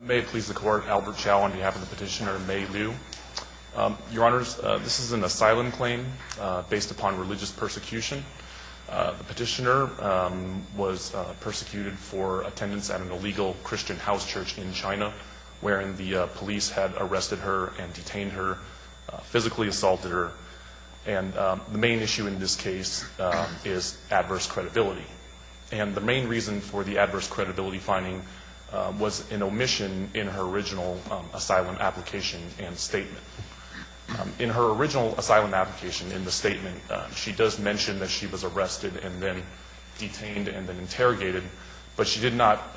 May it please the Court, Albert Chao on behalf of the petitioner Mei Liu. Your Honors, this is an asylum claim based upon religious persecution. The petitioner was persecuted for attendance at an illegal Christian house church in China, wherein the police had arrested her and detained her, physically assaulted her. And the main issue in this case is adverse credibility. And the main reason for the adverse credibility finding was an omission in her original asylum application and statement. In her original asylum application, in the statement, she does mention that she was arrested and then detained and then interrogated, but she did not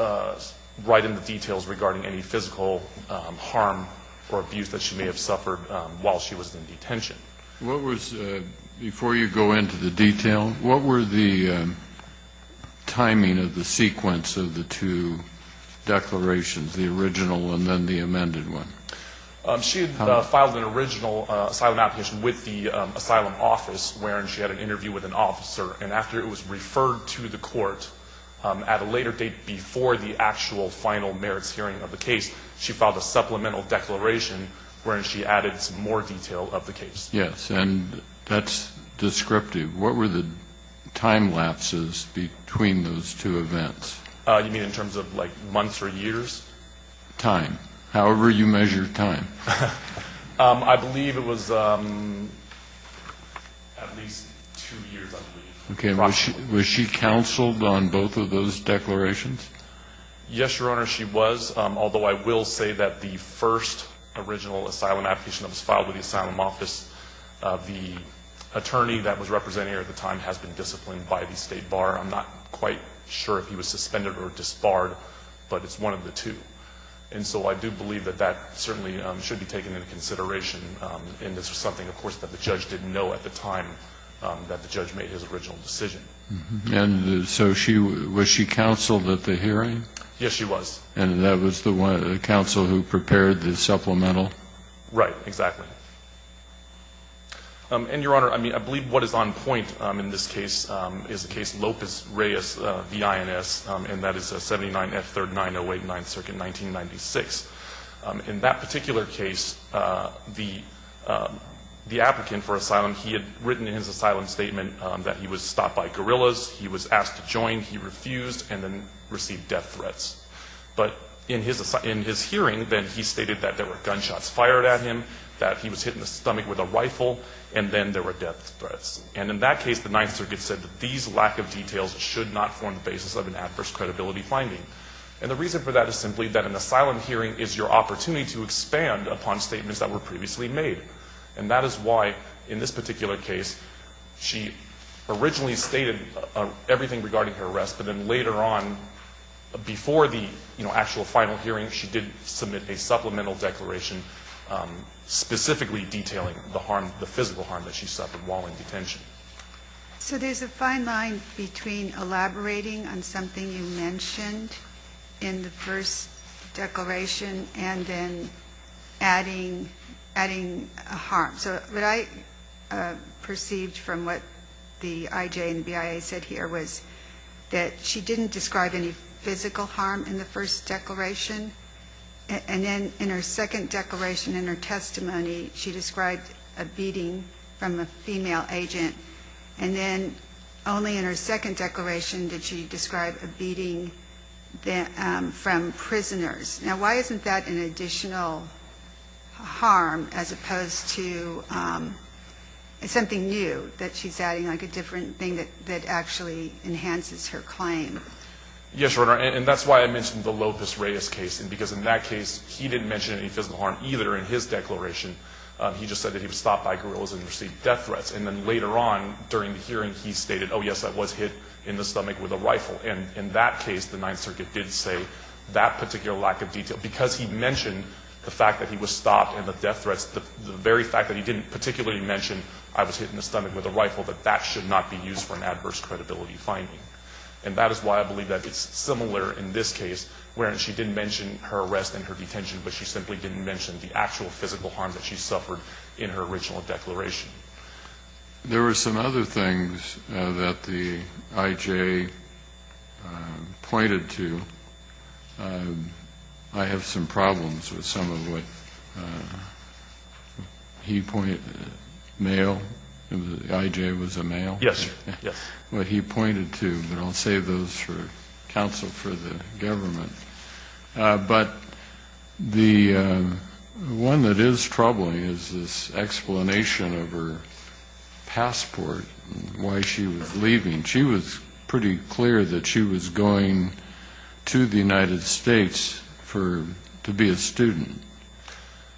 write in the details regarding any physical harm or abuse that she may have suffered while she was in detention. What was, before you go into the detail, what were the timing of the sequence of the two declarations, the original and then the amended one? She had filed an original asylum application with the asylum office, wherein she had an interview with an officer. And after it was referred to the court, at a later date before the actual final merits hearing of the case, she filed a supplemental declaration wherein she added some more detail of the case. Yes, and that's descriptive. What were the time lapses between those two events? You mean in terms of, like, months or years? Time, however you measure time. I believe it was at least two years, I believe. Okay. Was she counseled on both of those declarations? Yes, Your Honor, she was. Although I will say that the first original asylum application that was filed with the asylum office, the attorney that was representing her at the time has been disciplined by the state bar. I'm not quite sure if he was suspended or disbarred, but it's one of the two. And so I do believe that that certainly should be taken into consideration, and this was something, of course, that the judge didn't know at the time that the judge made his original decision. And so she, was she counseled at the hearing? Yes, she was. And that was the one, the counsel who prepared the supplemental? Right, exactly. And, Your Honor, I mean, I believe what is on point in this case is the case Lopez-Reyes v. INS, and that is 79 F. 3rd, 908 9th Circuit, 1996. In that particular case, the applicant for asylum, he had written in his asylum statement that he was stopped by guerrillas, he was asked to join, he refused, and then received death threats. But in his hearing, then, he stated that there were gunshots fired at him, that he was hit in the stomach with a rifle, and then there were death threats. And in that case, the 9th Circuit said that these lack of details should not form the basis of an adverse credibility finding. And the reason for that is simply that an asylum hearing is your opportunity to expand upon statements that were previously made. And that is why, in this particular case, she originally stated everything regarding her arrest, but then later on, before the actual final hearing, she did submit a supplemental declaration specifically detailing the harm, the physical harm that she suffered while in detention. So there is a fine line between elaborating on something you mentioned in the first declaration and then adding a harm. So what I perceived from what the IJ and BIA said here was that she didn't describe any physical harm in the first declaration, and then in her second declaration, in her testimony, she described a beating from a female agent. And then only in her second declaration did she describe a beating from prisoners. Now, why isn't that an additional harm as opposed to something new that she's adding, like a different thing that actually enhances her claim? Yes, Your Honor, and that's why I mentioned the Lopez-Reyes case, because in that case, he didn't mention any physical harm either in his declaration. He just said that he was stopped by guerrillas and received death threats. And then later on during the hearing, he stated, oh, yes, I was hit in the stomach with a rifle. And in that case, the Ninth Circuit did say that particular lack of detail. Because he mentioned the fact that he was stopped and the death threats, the very fact that he didn't particularly mention I was hit in the stomach with a rifle, that that should not be used for an adverse credibility finding. And that is why I believe that it's similar in this case, wherein she didn't mention her arrest and her detention, but she simply didn't mention the actual physical harm that she suffered in her original declaration. There were some other things that the I.J. pointed to. I have some problems with some of what he pointed to. Male? The I.J. was a male? Yes, sir. Yes. What he pointed to, but I'll save those for counsel for the government. But the one that is troubling is this explanation of her passport and why she was leaving. She was pretty clear that she was going to the United States to be a student.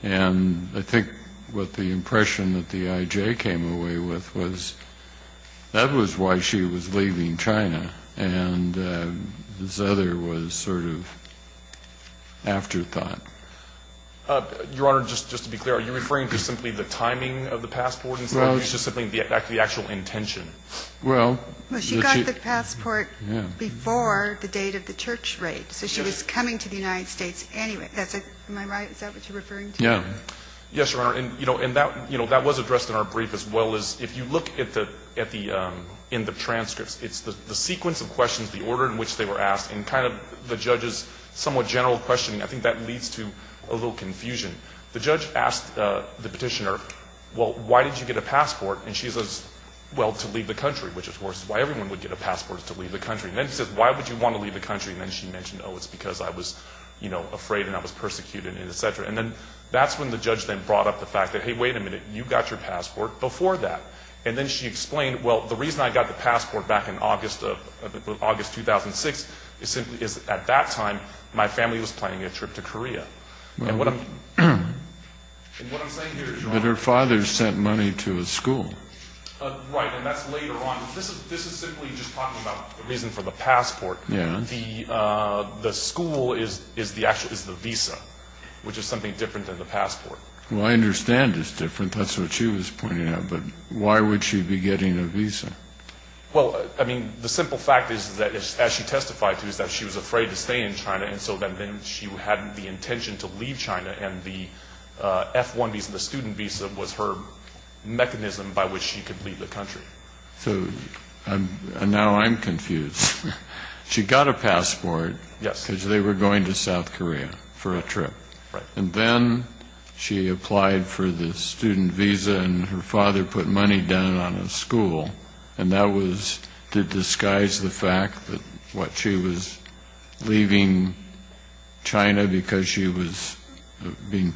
And I think what the impression that the I.J. came away with was that was why she was leaving China. And this other was sort of afterthought. Your Honor, just to be clear, are you referring to simply the timing of the passport instead of just simply the actual intention? Well, she got the passport before the date of the church raid. So she was coming to the United States anyway. Am I right? Is that what you're referring to? Yeah. Yes, Your Honor. And that was addressed in our brief as well as if you look in the transcripts, it's the sequence of questions, the order in which they were asked, and kind of the judge's somewhat general questioning. I think that leads to a little confusion. The judge asked the petitioner, well, why did you get a passport? And she says, well, to leave the country, which of course is why everyone would get a passport is to leave the country. And then she says, why would you want to leave the country? And then she mentioned, oh, it's because I was afraid and I was persecuted and et cetera. And then that's when the judge then brought up the fact that, hey, wait a minute, you got your passport before that. And then she explained, well, the reason I got the passport back in August 2006 is at that time my family was planning a trip to Korea. And what I'm saying here is, Your Honor. But her father sent money to a school. Right. And that's later on. This is simply just talking about the reason for the passport. Yeah. The school is the visa, which is something different than the passport. Well, I understand it's different. That's what she was pointing out. But why would she be getting a visa? Well, I mean, the simple fact is that, as she testified to, is that she was afraid to stay in China. And so then she had the intention to leave China. And the F-1 visa, the student visa, was her mechanism by which she could leave the country. So now I'm confused. She got a passport. Yes. Because they were going to South Korea for a trip. Right. And then she applied for the student visa, and her father put money down on a school. And that was to disguise the fact that she was leaving China because she was being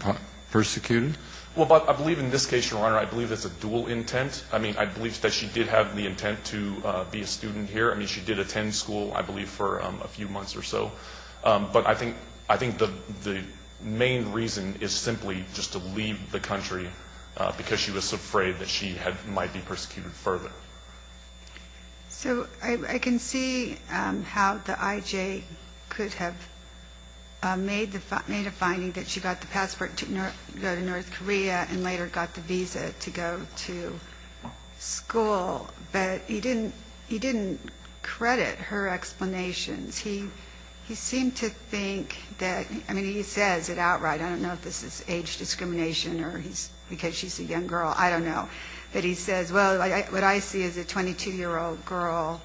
persecuted? Well, I believe in this case, Your Honor, I believe it's a dual intent. I mean, I believe that she did have the intent to be a student here. I mean, she did attend school, I believe, for a few months or so. But I think the main reason is simply just to leave the country because she was so afraid that she might be persecuted further. So I can see how the IJ could have made a finding that she got the passport to go to North Korea and later got the visa to go to school. But he didn't credit her explanations. He seemed to think that he says it outright. I don't know if this is age discrimination or because she's a young girl. I don't know. But he says, well, what I see is a 22-year-old girl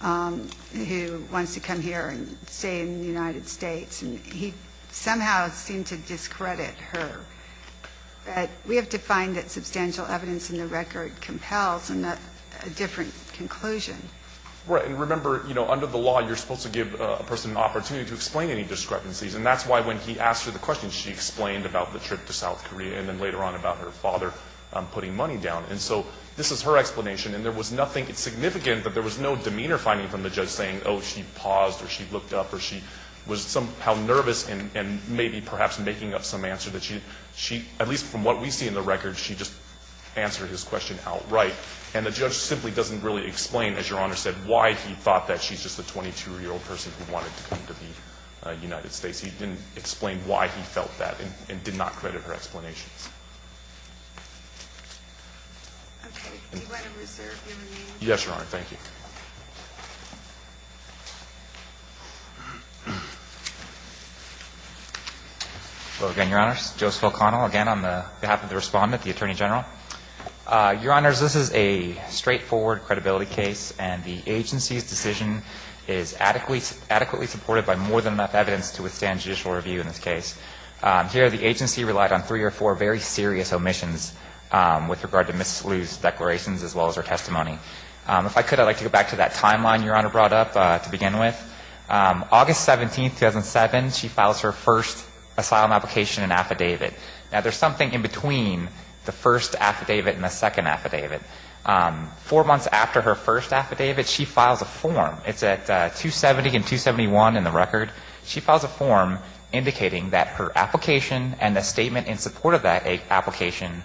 who wants to come here and stay in the United States. And he somehow seemed to discredit her. But we have to find that substantial evidence in the record compels a different conclusion. Right. And remember, you know, under the law, you're supposed to give a person an opportunity to explain any discrepancies. And that's why when he asked her the question, she explained about the trip to South Korea and then later on about her father putting money down. And so this is her explanation. And there was nothing significant, but there was no demeanor finding from the judge saying, oh, she paused or she looked up or she was somehow nervous and maybe perhaps making up some answer that she, at least from what we see in the record, she just answered his question outright. And the judge simply doesn't really explain, as Your Honor said, why he thought that she's just a 22-year-old person who wanted to come to the United States. He didn't explain why he felt that and did not credit her explanations. Okay. Do you mind if we serve him a minute? Yes, Your Honor. Thank you. Hello again, Your Honors. Joseph O'Connell again on behalf of the Respondent, the Attorney General. Your Honors, this is a straightforward credibility case, and the agency's decision is adequately supported by more than enough evidence to withstand judicial review in this case. Here the agency relied on three or four very serious omissions with regard to Mrs. Liu's declarations as well as her testimony. If I could, I'd like to go back to that timeline Your Honor brought up to begin with. August 17, 2007, she files her first asylum application and affidavit. Now, there's something in between the first affidavit and the second affidavit. Four months after her first affidavit, she files a form. It's at 270 and 271 in the record. She files a form indicating that her application and the statement in support of that application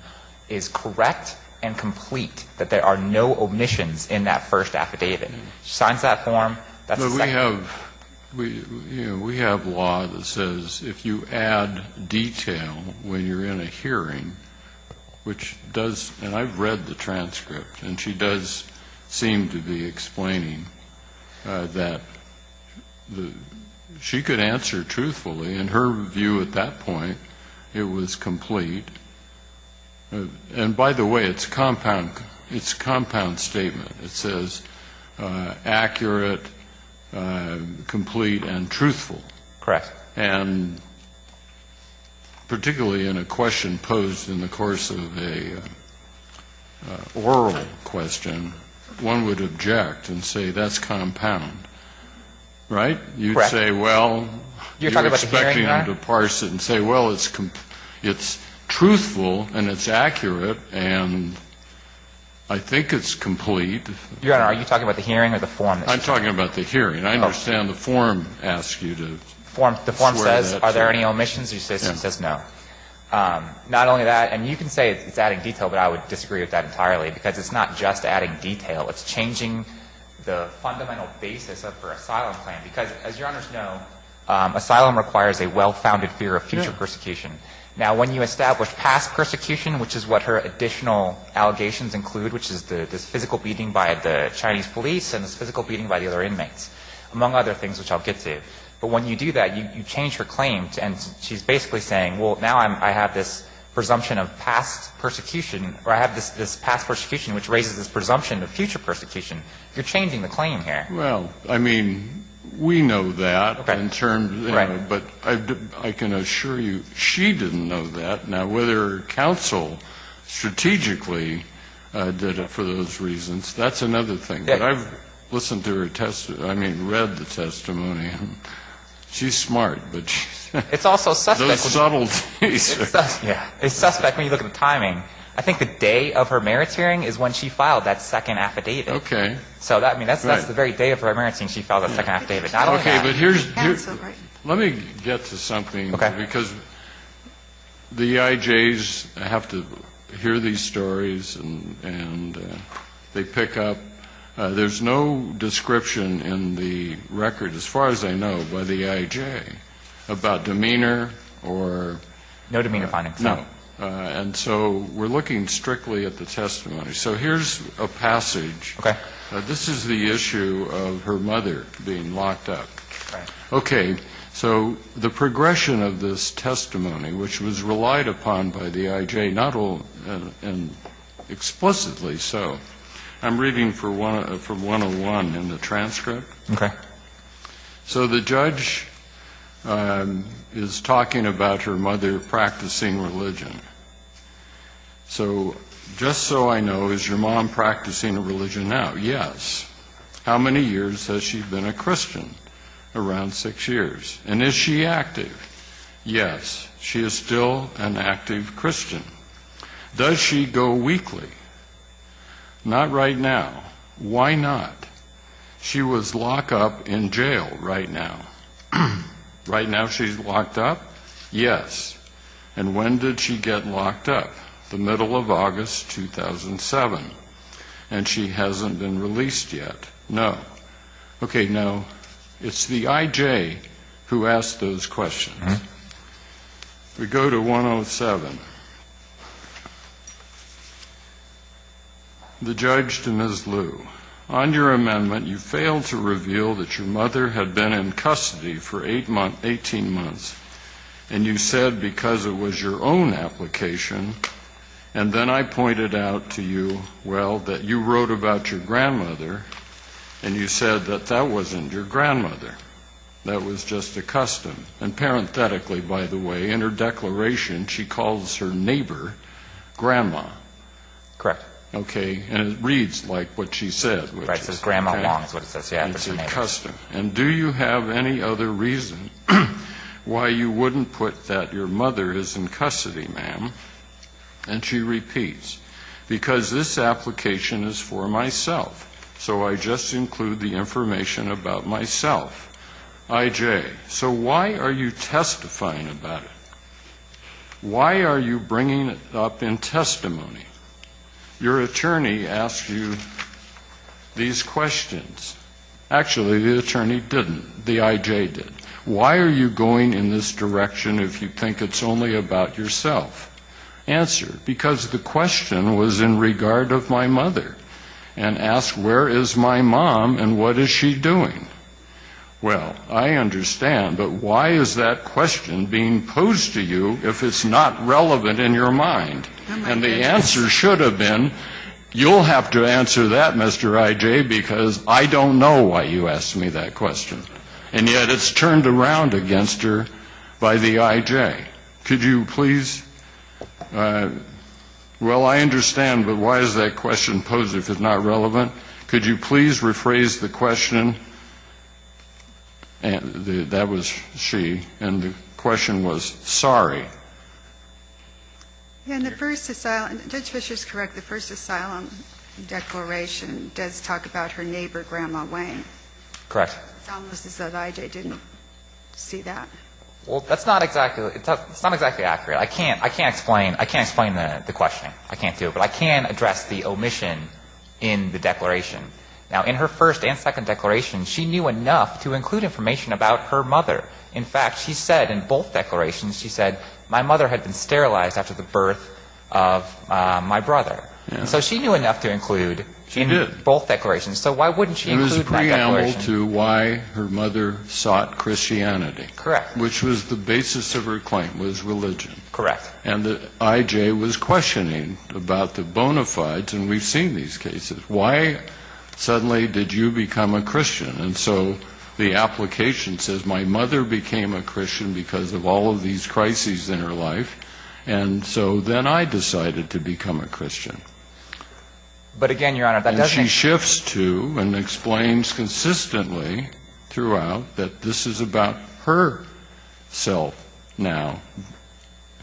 is correct and complete, that there are no omissions in that first affidavit. She signs that form. We have law that says if you add detail when you're in a hearing, which does, and I've read the transcript, and she does seem to be explaining that she could answer truthfully, in her view at that point, it was complete. And by the way, it's a compound statement. It says accurate, complete, and truthful. Correct. And particularly in a question posed in the course of an oral question, one would object and say that's compound. Right? Correct. You'd say, well, you're expecting them to parse it and say, well, it's truthful and it's complete. Your Honor, are you talking about the hearing or the form? I'm talking about the hearing. I understand the form asks you to swear that it's true. The form says are there any omissions? Yes. It says no. Not only that, and you can say it's adding detail, but I would disagree with that entirely, because it's not just adding detail. It's changing the fundamental basis of her asylum plan, because as Your Honor knows, asylum requires a well-founded fear of future persecution. Now, when you establish past persecution, which is what her additional allegations include, which is this physical beating by the Chinese police and this physical beating by the other inmates, among other things which I'll get to, but when you do that, you change her claim, and she's basically saying, well, now I have this presumption of past persecution, or I have this past persecution which raises this presumption of future persecution. You're changing the claim here. Well, I mean, we know that in terms of the other, but I can assure you she didn't know that. Now, whether counsel strategically did it for those reasons, that's another thing. But I've listened to her testimony, I mean, read the testimony, and she's smart, but she's not. It's also suspect. Those subtleties. Yeah. It's suspect when you look at the timing. I think the day of her merits hearing is when she filed that second affidavit. Okay. So, I mean, that's the very day of her merits hearing she filed that second affidavit. Okay. Okay. But here's the thing. Let me get to something. Okay. Because the EIJs have to hear these stories, and they pick up. There's no description in the record, as far as I know, by the EIJ about demeanor or... No demeanor findings. No. And so we're looking strictly at the testimony. So here's a passage. Okay. This is the issue of her mother being locked up. Right. Okay. So the progression of this testimony, which was relied upon by the EIJ, not all explicitly so. I'm reading from 101 in the transcript. Okay. So the judge is talking about her mother practicing religion. So just so I know, is your mom practicing a religion now? Yes. How many years has she been a Christian? Around six years. And is she active? Yes. She is still an active Christian. Does she go weekly? Not right now. Why not? She was locked up in jail right now. Right now she's locked up? Yes. And when did she get locked up? The middle of August 2007. And she hasn't been released yet? No. Okay. Now, it's the EIJ who asked those questions. We go to 107. The judge to Ms. Lu. On your amendment, you failed to reveal that your mother had been in custody for 18 months. And you said because it was your own application. And then I pointed out to you, well, that you wrote about your grandmother, and you said that that wasn't your grandmother. That was just a custom. And parenthetically, by the way, in her declaration, she calls her neighbor Grandma. Correct. Okay. Right. It says Grandma Wong. That's what it says. Yeah. And that's the reason why you wouldn't put that your mother is in custody, ma'am. And she repeats. Because this application is for myself. So I just include the information about myself. IJ. So why are you testifying about it? Why are you bringing it up in testimony? Your attorney asked you these questions. Actually, the attorney didn't. The IJ did. Why are you going in this direction if you think it's only about yourself? Answer. Because the question was in regard of my mother. And ask where is my mom and what is she doing? Well, I understand. But why is that question being posed to you if it's not relevant in your mind? And the answer should have been, you'll have to answer that, Mr. IJ, because I don't know why you asked me that question. And yet it's turned around against her by the IJ. Could you please? Well, I understand. But why is that question posed if it's not relevant? Could you please rephrase the question? That was she. And the question was sorry. In the first asylum, Judge Fischer is correct, the first asylum declaration does talk about her neighbor, Grandma Wayne. Correct. It's almost as though the IJ didn't see that. Well, that's not exactly accurate. I can't explain the questioning. I can't do it. But I can address the omission in the declaration. Now, in her first and second declaration, she knew enough to include information about her mother. In fact, she said in both declarations, she said, my mother had been sterilized after the birth of my brother. And so she knew enough to include in both declarations. So why wouldn't she include that declaration? It was a preamble to why her mother sought Christianity. Correct. Which was the basis of her claim was religion. Correct. And the IJ was questioning about the bona fides, and we've seen these cases. Why suddenly did you become a Christian? And so the application says my mother became a Christian because of all of these crises in her life. And so then I decided to become a Christian. But, again, Your Honor, that doesn't explain. And she shifts to and explains consistently throughout that this is about her self now.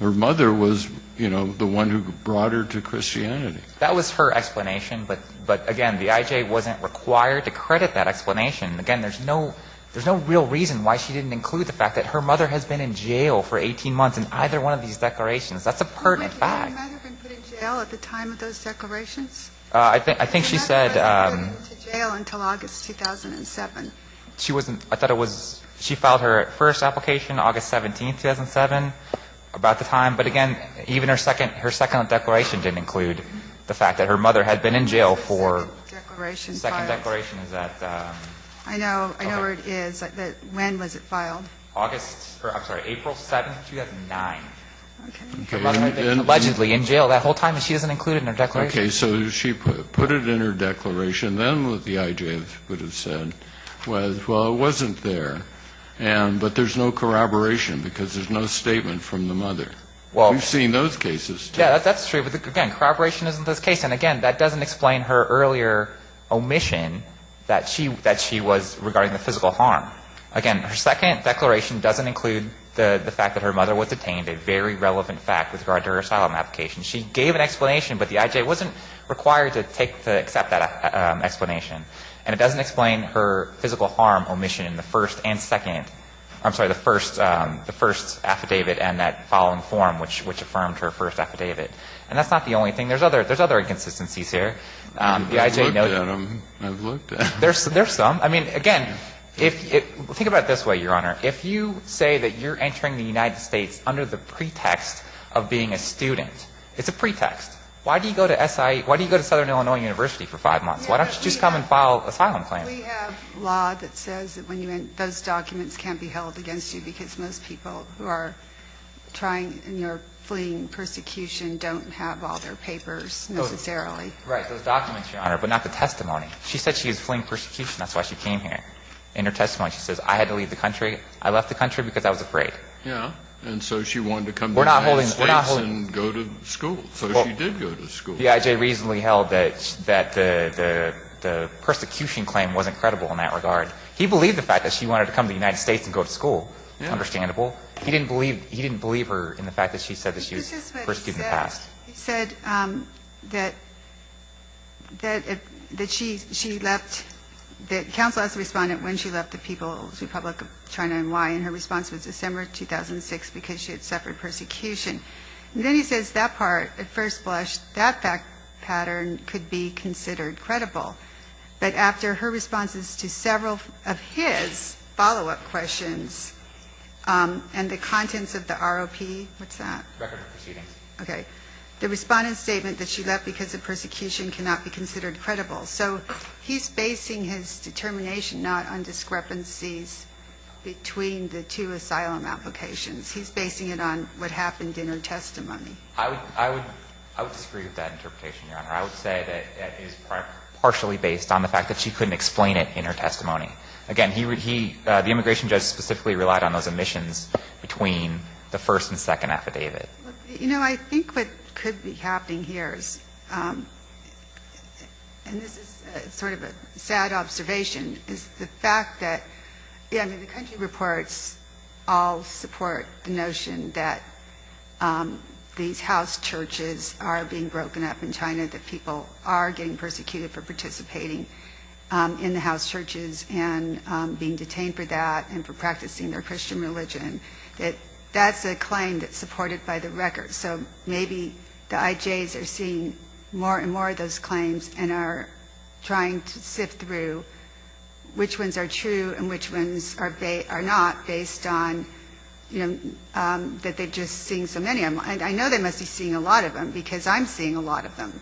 Her mother was, you know, the one who brought her to Christianity. That was her explanation, but, again, the IJ wasn't required to credit that declaration. Again, there's no real reason why she didn't include the fact that her mother has been in jail for 18 months in either one of these declarations. That's a pertinent fact. But she might have been put in jail at the time of those declarations? I think she said to jail until August 2007. She wasn't. I thought it was. She filed her first application August 17, 2007, about the time. But, again, even her second declaration didn't include the fact that her mother had been in jail for the second declaration. I know where it is. When was it filed? April 7, 2009. Okay. Allegedly in jail that whole time and she doesn't include it in her declaration. Okay. So she put it in her declaration. Then what the IJ would have said was, well, it wasn't there. But there's no corroboration because there's no statement from the mother. We've seen those cases, too. Yeah, that's true. But, again, corroboration isn't this case. And, again, that doesn't explain her earlier omission that she was regarding the physical harm. Again, her second declaration doesn't include the fact that her mother was detained, a very relevant fact with regard to her asylum application. She gave an explanation, but the IJ wasn't required to accept that explanation. And it doesn't explain her physical harm omission in the first and second I'm sorry, the first affidavit and that following form, which affirmed her first affidavit. And that's not the only thing. There's other inconsistencies here. I've looked at them. There's some. I mean, again, think about it this way, Your Honor. If you say that you're entering the United States under the pretext of being a student, it's a pretext. Why do you go to Southern Illinois University for five months? Why don't you just come and file an asylum claim? We have law that says those documents can't be held against you because most people who are trying and are fleeing persecution don't have all their papers necessarily. Right. Those documents, Your Honor, but not the testimony. She said she was fleeing persecution. That's why she came here. In her testimony, she says, I had to leave the country. I left the country because I was afraid. Yeah. And so she wanted to come to the United States and go to school. So she did go to school. The IJ reasonably held that the persecution claim wasn't credible in that regard. He believed the fact that she wanted to come to the United States and go to school is understandable. He didn't believe her in the fact that she said that she was persecuted in the past. He said that she left, that counsel asked the respondent when she left the People's Republic of China and why, and her response was December 2006 because she had suffered persecution. And then he says that part, at first blush, that fact pattern could be considered credible. But after her responses to several of his follow-up questions and the contents of the ROP, what's that? Record of proceedings. Okay. The respondent's statement that she left because of persecution cannot be considered credible. So he's basing his determination not on discrepancies between the two asylum applications. He's basing it on what happened in her testimony. I would disagree with that interpretation, Your Honor. I would say that it is partially based on the fact that she couldn't explain it in her testimony. Again, he, the immigration judge specifically relied on those omissions between the first and second affidavit. You know, I think what could be happening here is, and this is sort of a sad observation, is the fact that, I mean, the country reports all support the notion that these house churches are being broken up in China, that people are getting persecuted for participating in the house churches and being detained for that and for practicing their Christian religion. That's a claim that's supported by the record. So maybe the IJs are seeing more and more of those claims and are trying to sift through which ones are true and which ones are not based on, you know, that they've just seen so many. And I know they must be seeing a lot of them, because I'm seeing a lot of them.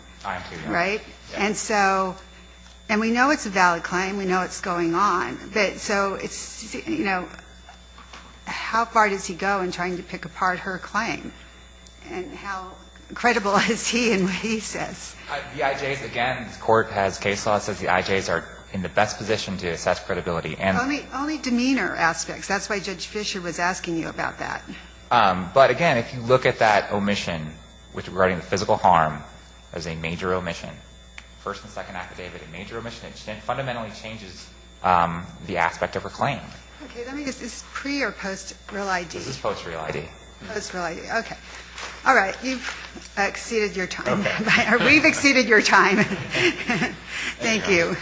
Right? And so we know it's a valid claim. We know it's going on. But so it's, you know, how far does he go in trying to pick apart her claim? And how credible is he in what he says? The IJs, again, this Court has case law that says the IJs are in the best position to assess credibility. Only demeanor aspects. That's why Judge Fischer was asking you about that. But, again, if you look at that omission regarding the physical harm as a major omission, first and second affidavit, a major omission, it fundamentally changes the aspect of her claim. Okay. Is this pre- or post-real ID? This is post-real ID. Post-real ID. Okay. All right. You've exceeded your time. We've exceeded your time. Thank you.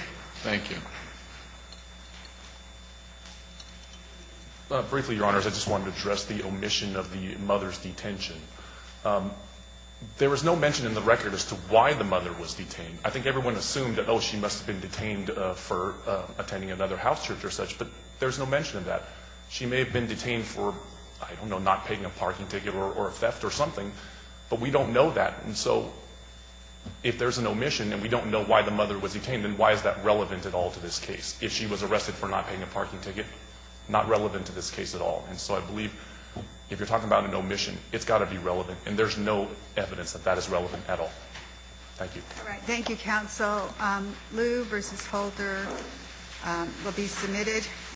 Thank you. Briefly, Your Honors, I just wanted to address the omission of the mother's detention. There was no mention in the record as to why the mother was detained. I think everyone assumed, oh, she must have been detained for attending another house church or such. But there's no mention of that. She may have been detained for, I don't know, not paying a parking ticket or a theft or something. But we don't know that. And so if there's an omission and we don't know why the mother was detained, then why is that relevant at all to this case? If she was arrested for not paying a parking ticket, not relevant to this case at all. And so I believe if you're talking about an omission, it's got to be relevant. And there's no evidence that that is relevant at all. Thank you. All right. Lew v. Holder will be submitted.